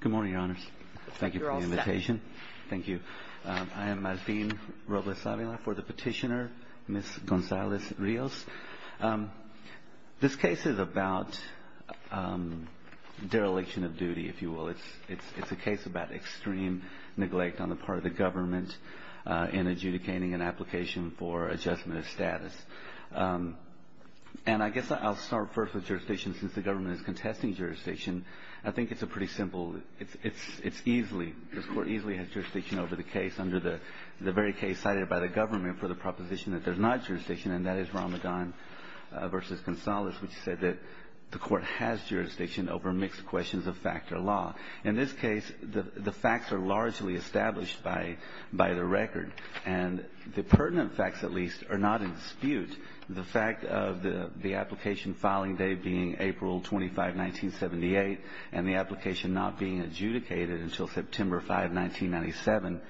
Good morning, Your Honors. Thank you for the invitation. Thank you. I am Martin Robles-Avila for the petitioner, Ms. Gonzalez-Rios. This case is about dereliction of duty, if you will. It's a case about extreme neglect on the part of the government in adjudicating an application for adjustment of status. And I guess I'll start first with jurisdiction, since the government is contesting jurisdiction. I think it's a pretty simple, it's easily, this Court easily has jurisdiction over the case, under the very case cited by the government for the proposition that there's not jurisdiction, and that is Ramadan v. Gonzalez, which said that the Court has jurisdiction over mixed questions of fact or law. In this case, the facts are largely established by the record, and the pertinent facts, at least, are not in dispute. The fact of the application filing day being April 25, 1978, and the application not being adjudicated until September 5, 1997,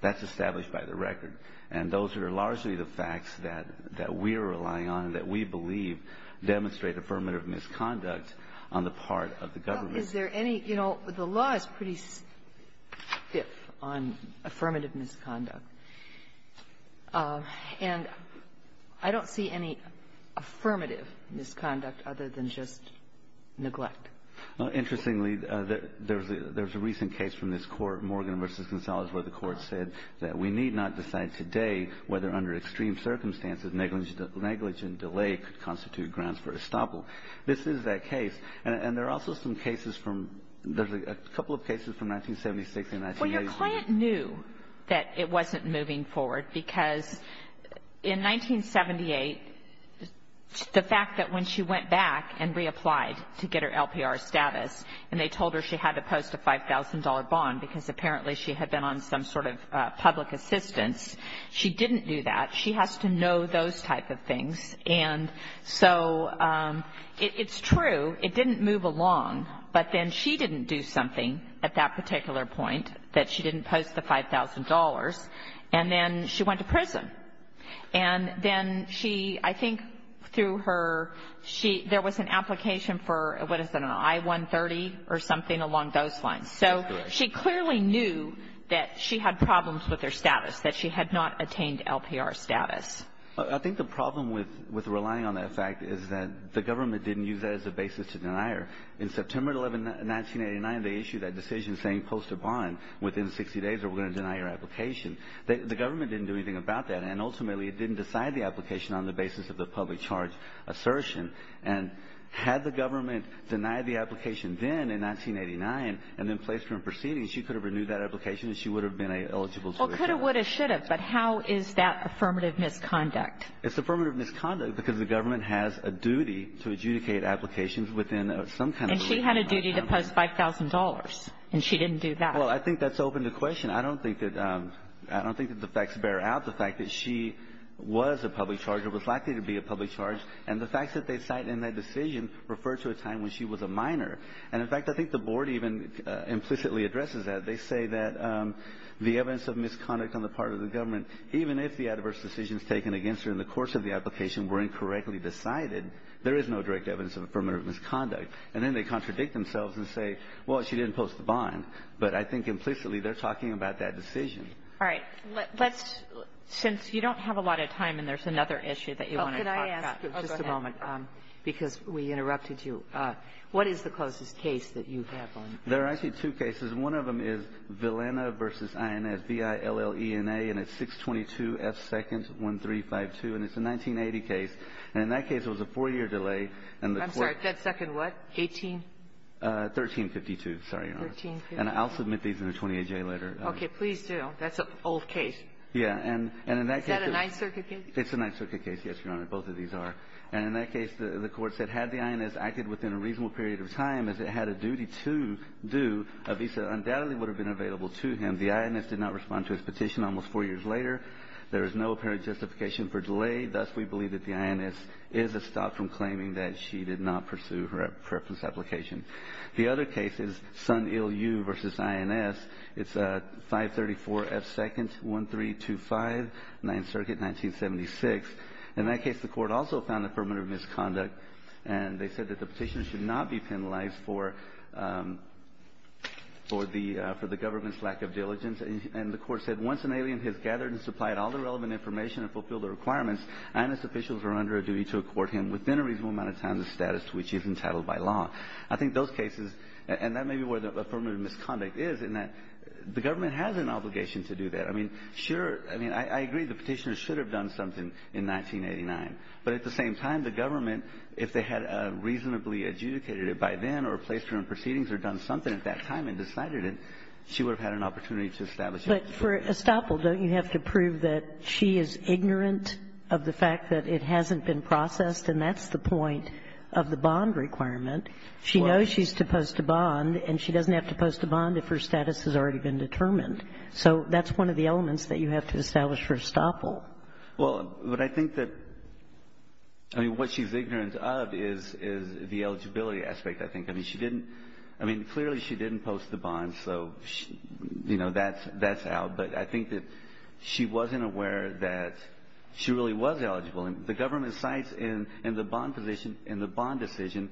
that's established by the record. And those are largely the facts that we're relying on and that we believe demonstrate affirmative misconduct on the part of the government. Well, is there any – you know, the law is pretty stiff on affirmative misconduct. And I don't see any affirmative misconduct other than just neglect. Well, interestingly, there's a recent case from this Court, Morgan v. Gonzalez, where the Court said that we need not decide today whether, under extreme circumstances, negligent delay could constitute grounds for estoppel. This is that case. And there are also some cases from – there's a couple of cases from 1976 and 1980. Well, your client knew that it wasn't moving forward, because in 1978, the fact that when she went back and reapplied to get her LPR status, and they told her she had to post a $5,000 bond because apparently she had been on some sort of public assistance, she didn't do that. She has to know those type of things. And so it's true, it didn't move along. But then she didn't do something at that particular point, that she didn't post the $5,000. And then she went to prison. And then she – I think through her, she – there was an application for, what is it, an I-130 or something along those lines. Correct. So she clearly knew that she had problems with her status, that she had not attained LPR status. I think the problem with relying on that fact is that the government didn't use that as a basis to deny her. In September 11, 1989, they issued that decision saying post a bond within 60 days or we're going to deny your application. The government didn't do anything about that. And ultimately, it didn't decide the application on the basis of the public charge assertion. And had the government denied the application then in 1989 and then placed her in proceedings, she could have renewed that application and she would have been eligible. Well, could have, would have, should have. But how is that affirmative misconduct? It's affirmative misconduct because the government has a duty to adjudicate applications within some kind of legal framework. And she had a duty to post $5,000, and she didn't do that. Well, I think that's open to question. I don't think that – I don't think that the facts bear out the fact that she was a public charge or was likely to be a public charge. And the facts that they cite in that decision refer to a time when she was a minor. And, in fact, I think the Board even implicitly addresses that. They say that the evidence of misconduct on the part of the government, even if the adverse decisions taken against her in the course of the application were incorrectly decided, there is no direct evidence of affirmative misconduct. And then they contradict themselves and say, well, she didn't post the bond. But I think implicitly they're talking about that decision. All right. Let's – since you don't have a lot of time and there's another issue that you want to talk about. Well, could I ask – Just a moment. Because we interrupted you. What is the closest case that you have on this? There are actually two cases. One of them is Villena v. INS, V-I-L-L-E-N-A, and it's 622F2nd1352. And it's a 1980 case. And in that case, there was a four-year delay. I'm sorry. That second what? 18? 1352. Sorry, Your Honor. 1352. And I'll submit these in a 28-J letter. Okay. Please do. That's an old case. Yeah. And in that case – Is that a Ninth Circuit case? It's a Ninth Circuit case, yes, Your Honor. Both of these are. And in that case, the court said had the INS acted within a reasonable period of time, as it had a duty to do, a visa undoubtedly would have been available to him. The INS did not respond to his petition almost four years later. There is no apparent justification for delay. Thus, we believe that the INS is a stop from claiming that she did not pursue her preference application. The other case is Son-Il-Yu v. INS. It's 534F2nd1325, Ninth Circuit, 1976. In that case, the court also found affirmative misconduct. And they said that the petitioner should not be penalized for the government's lack of diligence. And the court said, Once an alien has gathered and supplied all the relevant information and fulfilled the requirements, INS officials are under a duty to accord him within a reasonable amount of time the status to which he is entitled by law. I think those cases, and that may be where the affirmative misconduct is, in that the government has an obligation to do that. I mean, sure. I mean, I agree the petitioner should have done something in 1989. But at the same time, the government, if they had reasonably adjudicated it by then or placed her in proceedings or done something at that time and decided it, she would have had an opportunity to establish it. But for estoppel, don't you have to prove that she is ignorant of the fact that it hasn't been processed, and that's the point of the bond requirement? She knows she's supposed to bond, and she doesn't have to post a bond if her status has already been determined. So that's one of the elements that you have to establish for estoppel. Well, but I think that, I mean, what she's ignorant of is the eligibility aspect, I think. I mean, she didn't, I mean, clearly she didn't post the bond, so, you know, that's out. But I think that she wasn't aware that she really was eligible. And the government cites in the bond decision,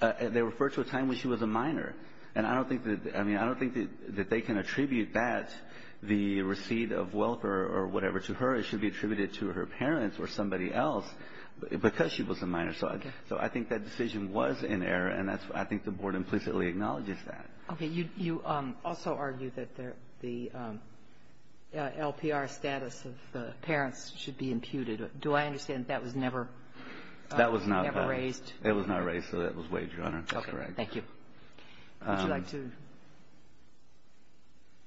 they refer to a time when she was a minor. And I don't think that, I mean, I don't think that they can attribute that, the receipt of wealth or whatever, to her. It should be attributed to her parents or somebody else, because she was a minor. So I think that decision was in error, and I think the Board implicitly acknowledges that. Okay. You also argue that the LPR status of the parents should be imputed. Do I understand that that was never raised? It was not raised, so that was wagered on her. That's correct. Okay. Thank you. Would you like to?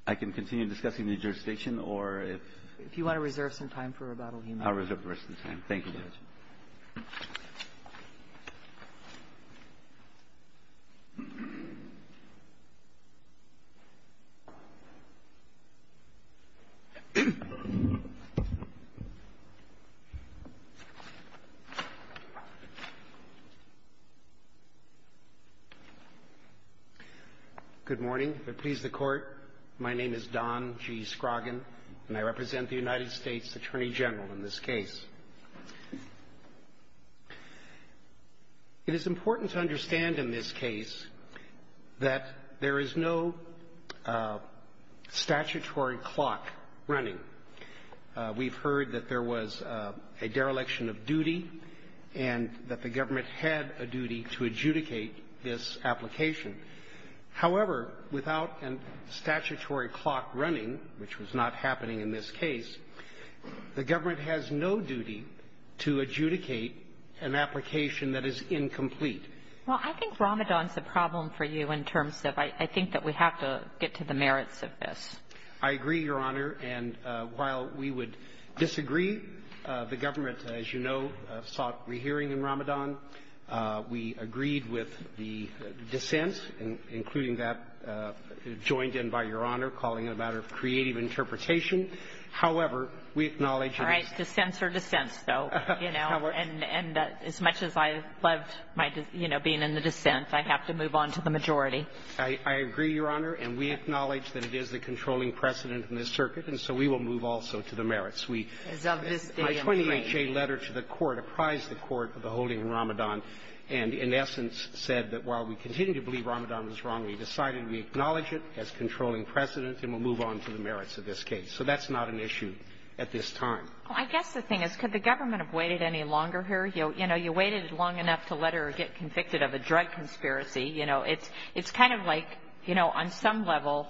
I can continue discussing the jurisdiction, or if you want to reserve some time for rebuttal. I'll reserve the rest of the time. Thank you, Judge. Good morning. If it please the Court, my name is Don G. Scroggin, and I represent the United States Attorney General in this case. It is important to understand in this case that there is no statutory clock running. We've heard that there was a dereliction of duty and that the government had a duty to adjudicate this application. However, without a statutory clock running, which was not happening in this case, the government has no duty to adjudicate an application that is incomplete. Well, I think Ramadan is a problem for you in terms of I think that we have to get to the merits of this. I agree, Your Honor. And while we would disagree, the government, as you know, sought rehearing in Ramadan. We agreed with the dissent, including that joined in by Your Honor, calling it a matter of creative interpretation. However, we acknowledge that the ---- All right. Dissents are dissents, though, you know. And as much as I loved my, you know, being in the dissent, I have to move on to the majority. I agree, Your Honor. And we acknowledge that it is the controlling precedent in this circuit, and so we will move also to the merits. We ---- As of this day, I'm afraid. My 20HA letter to the Court apprised the Court of the holding Ramadan, and in essence said that while we continue to believe Ramadan was wrong, we decided we acknowledge it as controlling precedent, and we'll move on to the merits of this case. So that's not an issue at this time. Well, I guess the thing is, could the government have waited any longer here? You know, you waited long enough to let her get convicted of a drug conspiracy. You know, it's kind of like, you know, on some level,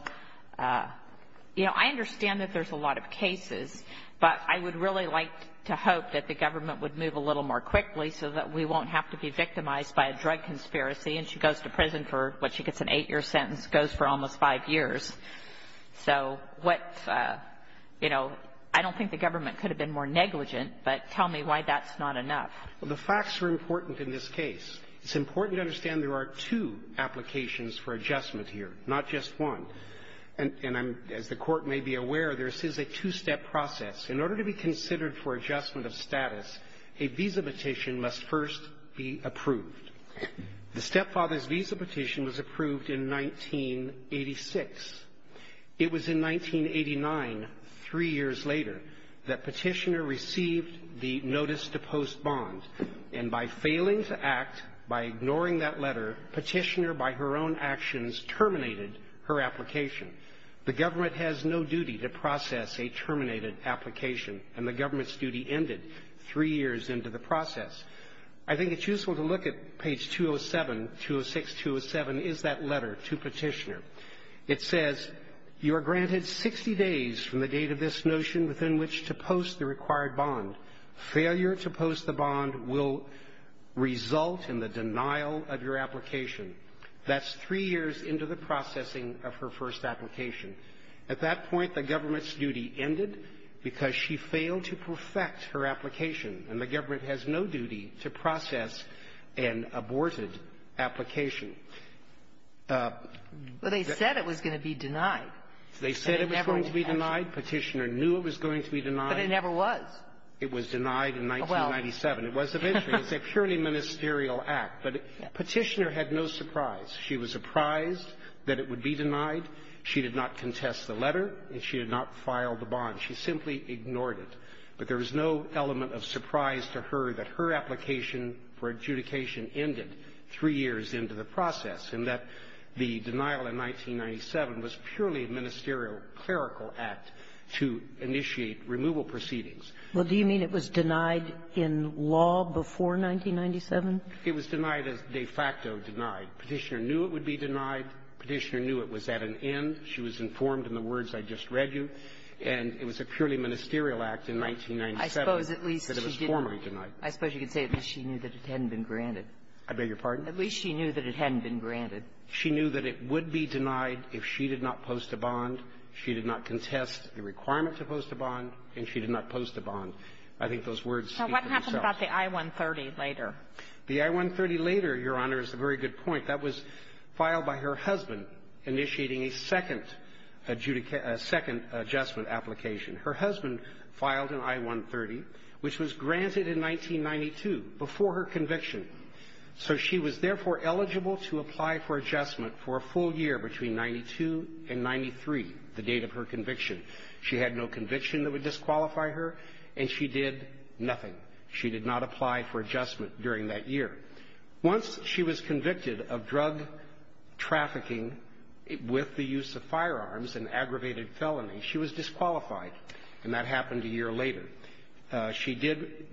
you know, I understand that there's a lot of cases, but I would really like to hope that the government would move a little more quickly so that we won't have to be victimized by a drug conspiracy, and she goes to prison for what she gets, an eight-year sentence, goes for almost five years. So what, you know, I don't think the government could have been more negligent, but tell me why that's not enough. Well, the facts are important in this case. It's important to understand there are two applications for adjustment here, not just And I'm, as the Court may be aware, this is a two-step process. In order to be considered for adjustment of status, a visa petition must first be approved. The stepfather's visa petition was approved in 1986. It was in 1989, three years later, that Petitioner received the notice to post bond, and by failing to act, by ignoring that letter, Petitioner, by her own actions, terminated her application. The government has no duty to process a terminated application, and the government's duty ended three years into the process. I think it's useful to look at page 207, 206-207, is that letter to Petitioner. It says, You are granted 60 days from the date of this notion within which to post the required bond. Failure to post the bond will result in the denial of your application. That's three years into the processing of her first application. At that point, the government's duty ended because she failed to perfect her application, and the government has no duty to process an aborted application. But they said it was going to be denied. They said it was going to be denied. Petitioner knew it was going to be denied. But it never was. It was denied in 1997. It was eventually. It's a purely ministerial act. But Petitioner had no surprise. She was surprised that it would be denied. She did not contest the letter, and she did not file the bond. She simply ignored it. But there was no element of surprise to her that her application for adjudication ended three years into the process, and that the denial in 1997 was purely a ministerial clerical act to initiate removal proceedings. Well, do you mean it was denied in law before 1997? It was denied as de facto denied. Petitioner knew it would be denied. Petitioner knew it was at an end. She was informed in the words I just read you. And it was a purely ministerial act in 1997 that it was formally denied. I suppose you could say at least she knew that it hadn't been granted. I beg your pardon? At least she knew that it hadn't been granted. She knew that it would be denied if she did not post a bond. She did not contest the requirement to post a bond, and she did not post a bond. I think those words speak for themselves. Now, what happened about the I-130 later? The I-130 later, Your Honor, is a very good point. That was filed by her husband initiating a second adjudication – a second adjustment application. Her husband filed an I-130, which was granted in 1992, before her conviction. So she was, therefore, eligible to apply for adjustment for a full year between 92 and 93, the date of her conviction. She had no conviction that would disqualify her, and she did nothing. She did not apply for adjustment during that year. Once she was convicted of drug trafficking with the use of firearms, an aggravated felony, she was disqualified, and that happened a year later. She did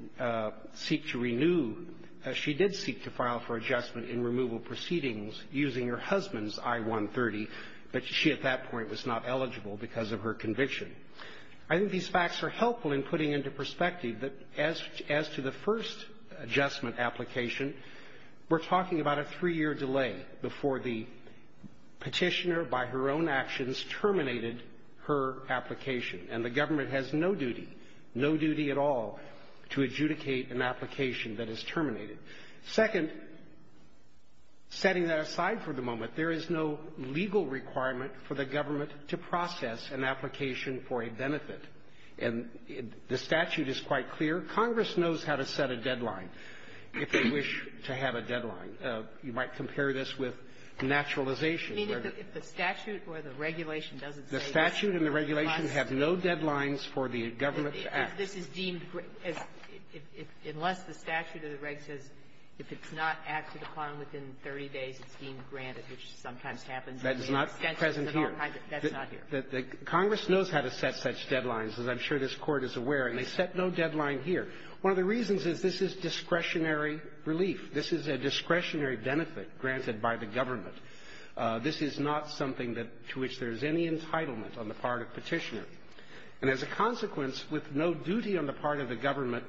seek to renew – she did seek to file for adjustment in removal proceedings using her husband's I-130, but she, at that point, was not eligible because of her conviction. I think these facts are helpful in putting into perspective that, as to the first adjustment application, we're talking about a three-year delay before the petitioner, by her own actions, terminated her application. And the government has no duty, no duty at all, to adjudicate an application that is terminated. Second, setting that aside for the moment, there is no legal requirement for the government to process an application for a benefit. And the statute is quite clear. Congress knows how to set a deadline, if they wish to have a deadline. You might compare this with naturalization, where the – Kagan. I mean, if the statute or the regulation doesn't say – The statute and the regulation have no deadlines for the government to act. This is deemed – unless the statute or the regulation says if it's not acted upon within 30 days, it's deemed granted, which sometimes happens. That is not present here. That's not here. Congress knows how to set such deadlines, as I'm sure this Court is aware, and they set no deadline here. One of the reasons is this is discretionary relief. This is a discretionary benefit granted by the government. This is not something that – to which there is any entitlement on the part of Petitioner. And as a consequence, with no duty on the part of the government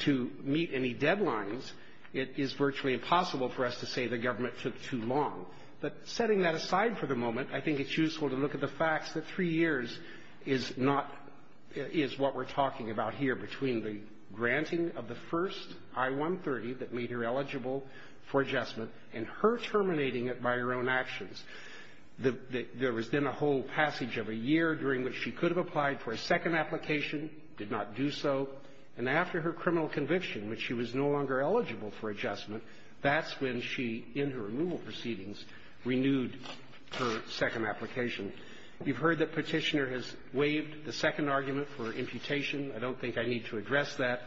to meet any deadlines, it is virtually impossible for us to say the government took too long. But setting that aside for the moment, I think it's useful to look at the facts that three years is not – is what we're talking about here between the granting of the first I-130 that made her eligible for adjustment and her terminating it by her own actions. There was then a whole passage of a year during which she could have applied for a second application, did not do so, and after her criminal conviction, when she was no longer eligible for adjustment, that's when she, in her removal proceedings, renewed her second application. You've heard that Petitioner has waived the second argument for imputation. I don't think I need to address that.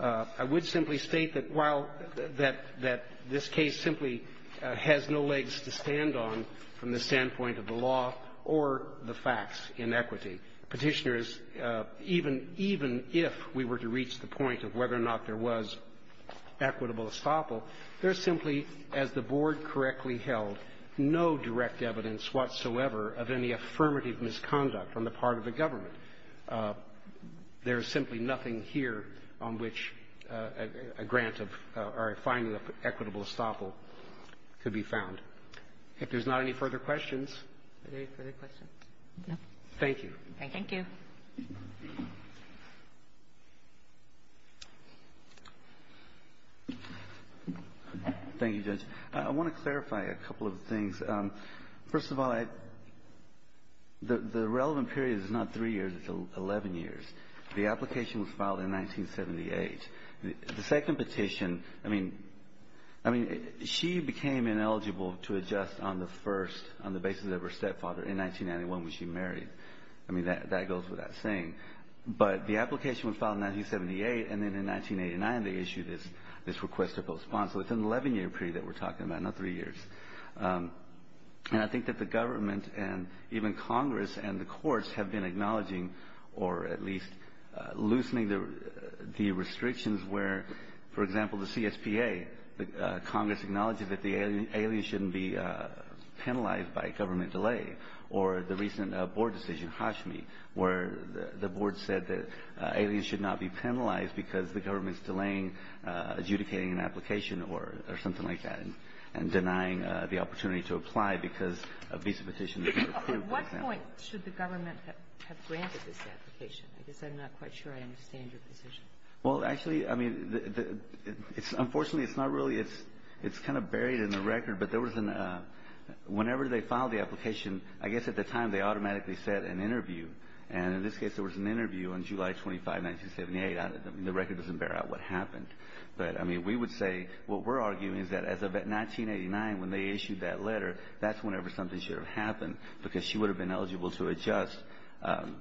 I would simply state that while – that this case simply has no legs to stand on from the standpoint of the law or the facts in equity, Petitioner is – even if we were to reach the point of whether or not there was equitable estoppel, there's simply, as the Board correctly held, no direct evidence whatsoever of any affirmative misconduct on the part of the government. There's simply nothing here on which a grant of – or a finding of equitable estoppel could be found. If there's not any further questions. Are there any further questions? No. Thank you. Thank you. Thank you, Judge. I want to clarify a couple of things. First of all, I – the relevant period is not three years, it's 11 years. The application was filed in 1978. The second petition – I mean, she became ineligible to adjust on the first – on the basis of her stepfather in 1991 when she married. I mean, that goes without saying. But the application was filed in 1978, and then in 1989 they issued this request to postpone. So it's an 11-year period that we're talking about, not three years. And I think that the government and even Congress and the courts have been acknowledging, or at least loosening the restrictions where, for example, the CSPA, Congress acknowledges that the alien shouldn't be penalized by government delay. Or the recent Board decision, Hashmi, where the Board said that aliens should not be penalized because the government's delaying adjudicating an application or something like that, and denying the opportunity to apply because a visa petition was approved, for example. At what point should the government have granted this application? I guess I'm not quite sure I understand your position. Well, actually, I mean, it's – unfortunately, it's not really – it's kind of buried in the record, but there was an – whenever they filed the application, I guess at the time they automatically set an interview. And in this case, there was an interview on July 25, 1978. I mean, the record doesn't bear out what happened. But, I mean, we would say what we're arguing is that as of 1989, when they issued that letter, that's whenever something should have happened because she would have been eligible to adjust on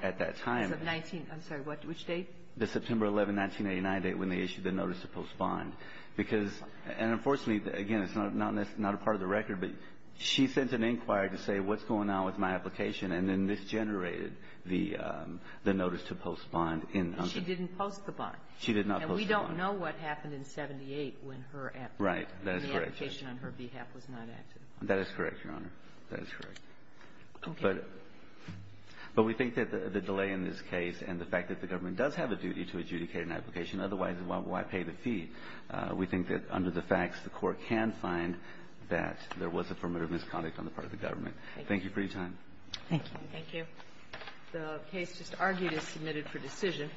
– at that time. As of 19 – I'm sorry. What – which date? The September 11, 1989 date when they issued the notice to postpone. Because – and unfortunately, again, it's not a part of the record, but she sent an inquiry to say what's going on with my application, and then this generated the notice to postpone in – But she didn't post the bond. She did not post the bond. And we don't know what happened in 1978 when her – Right. That is correct. When the application on her behalf was not active. That is correct, Your Honor. That is correct. Okay. But we think that the delay in this case and the fact that the government does have a duty to adjudicate an application, otherwise, why pay the fee? We think that under the facts, the Court can find that there was affirmative misconduct on the part of the government. Thank you. Thank you for your time. Thank you. Thank you. The case just argued is submitted for decision.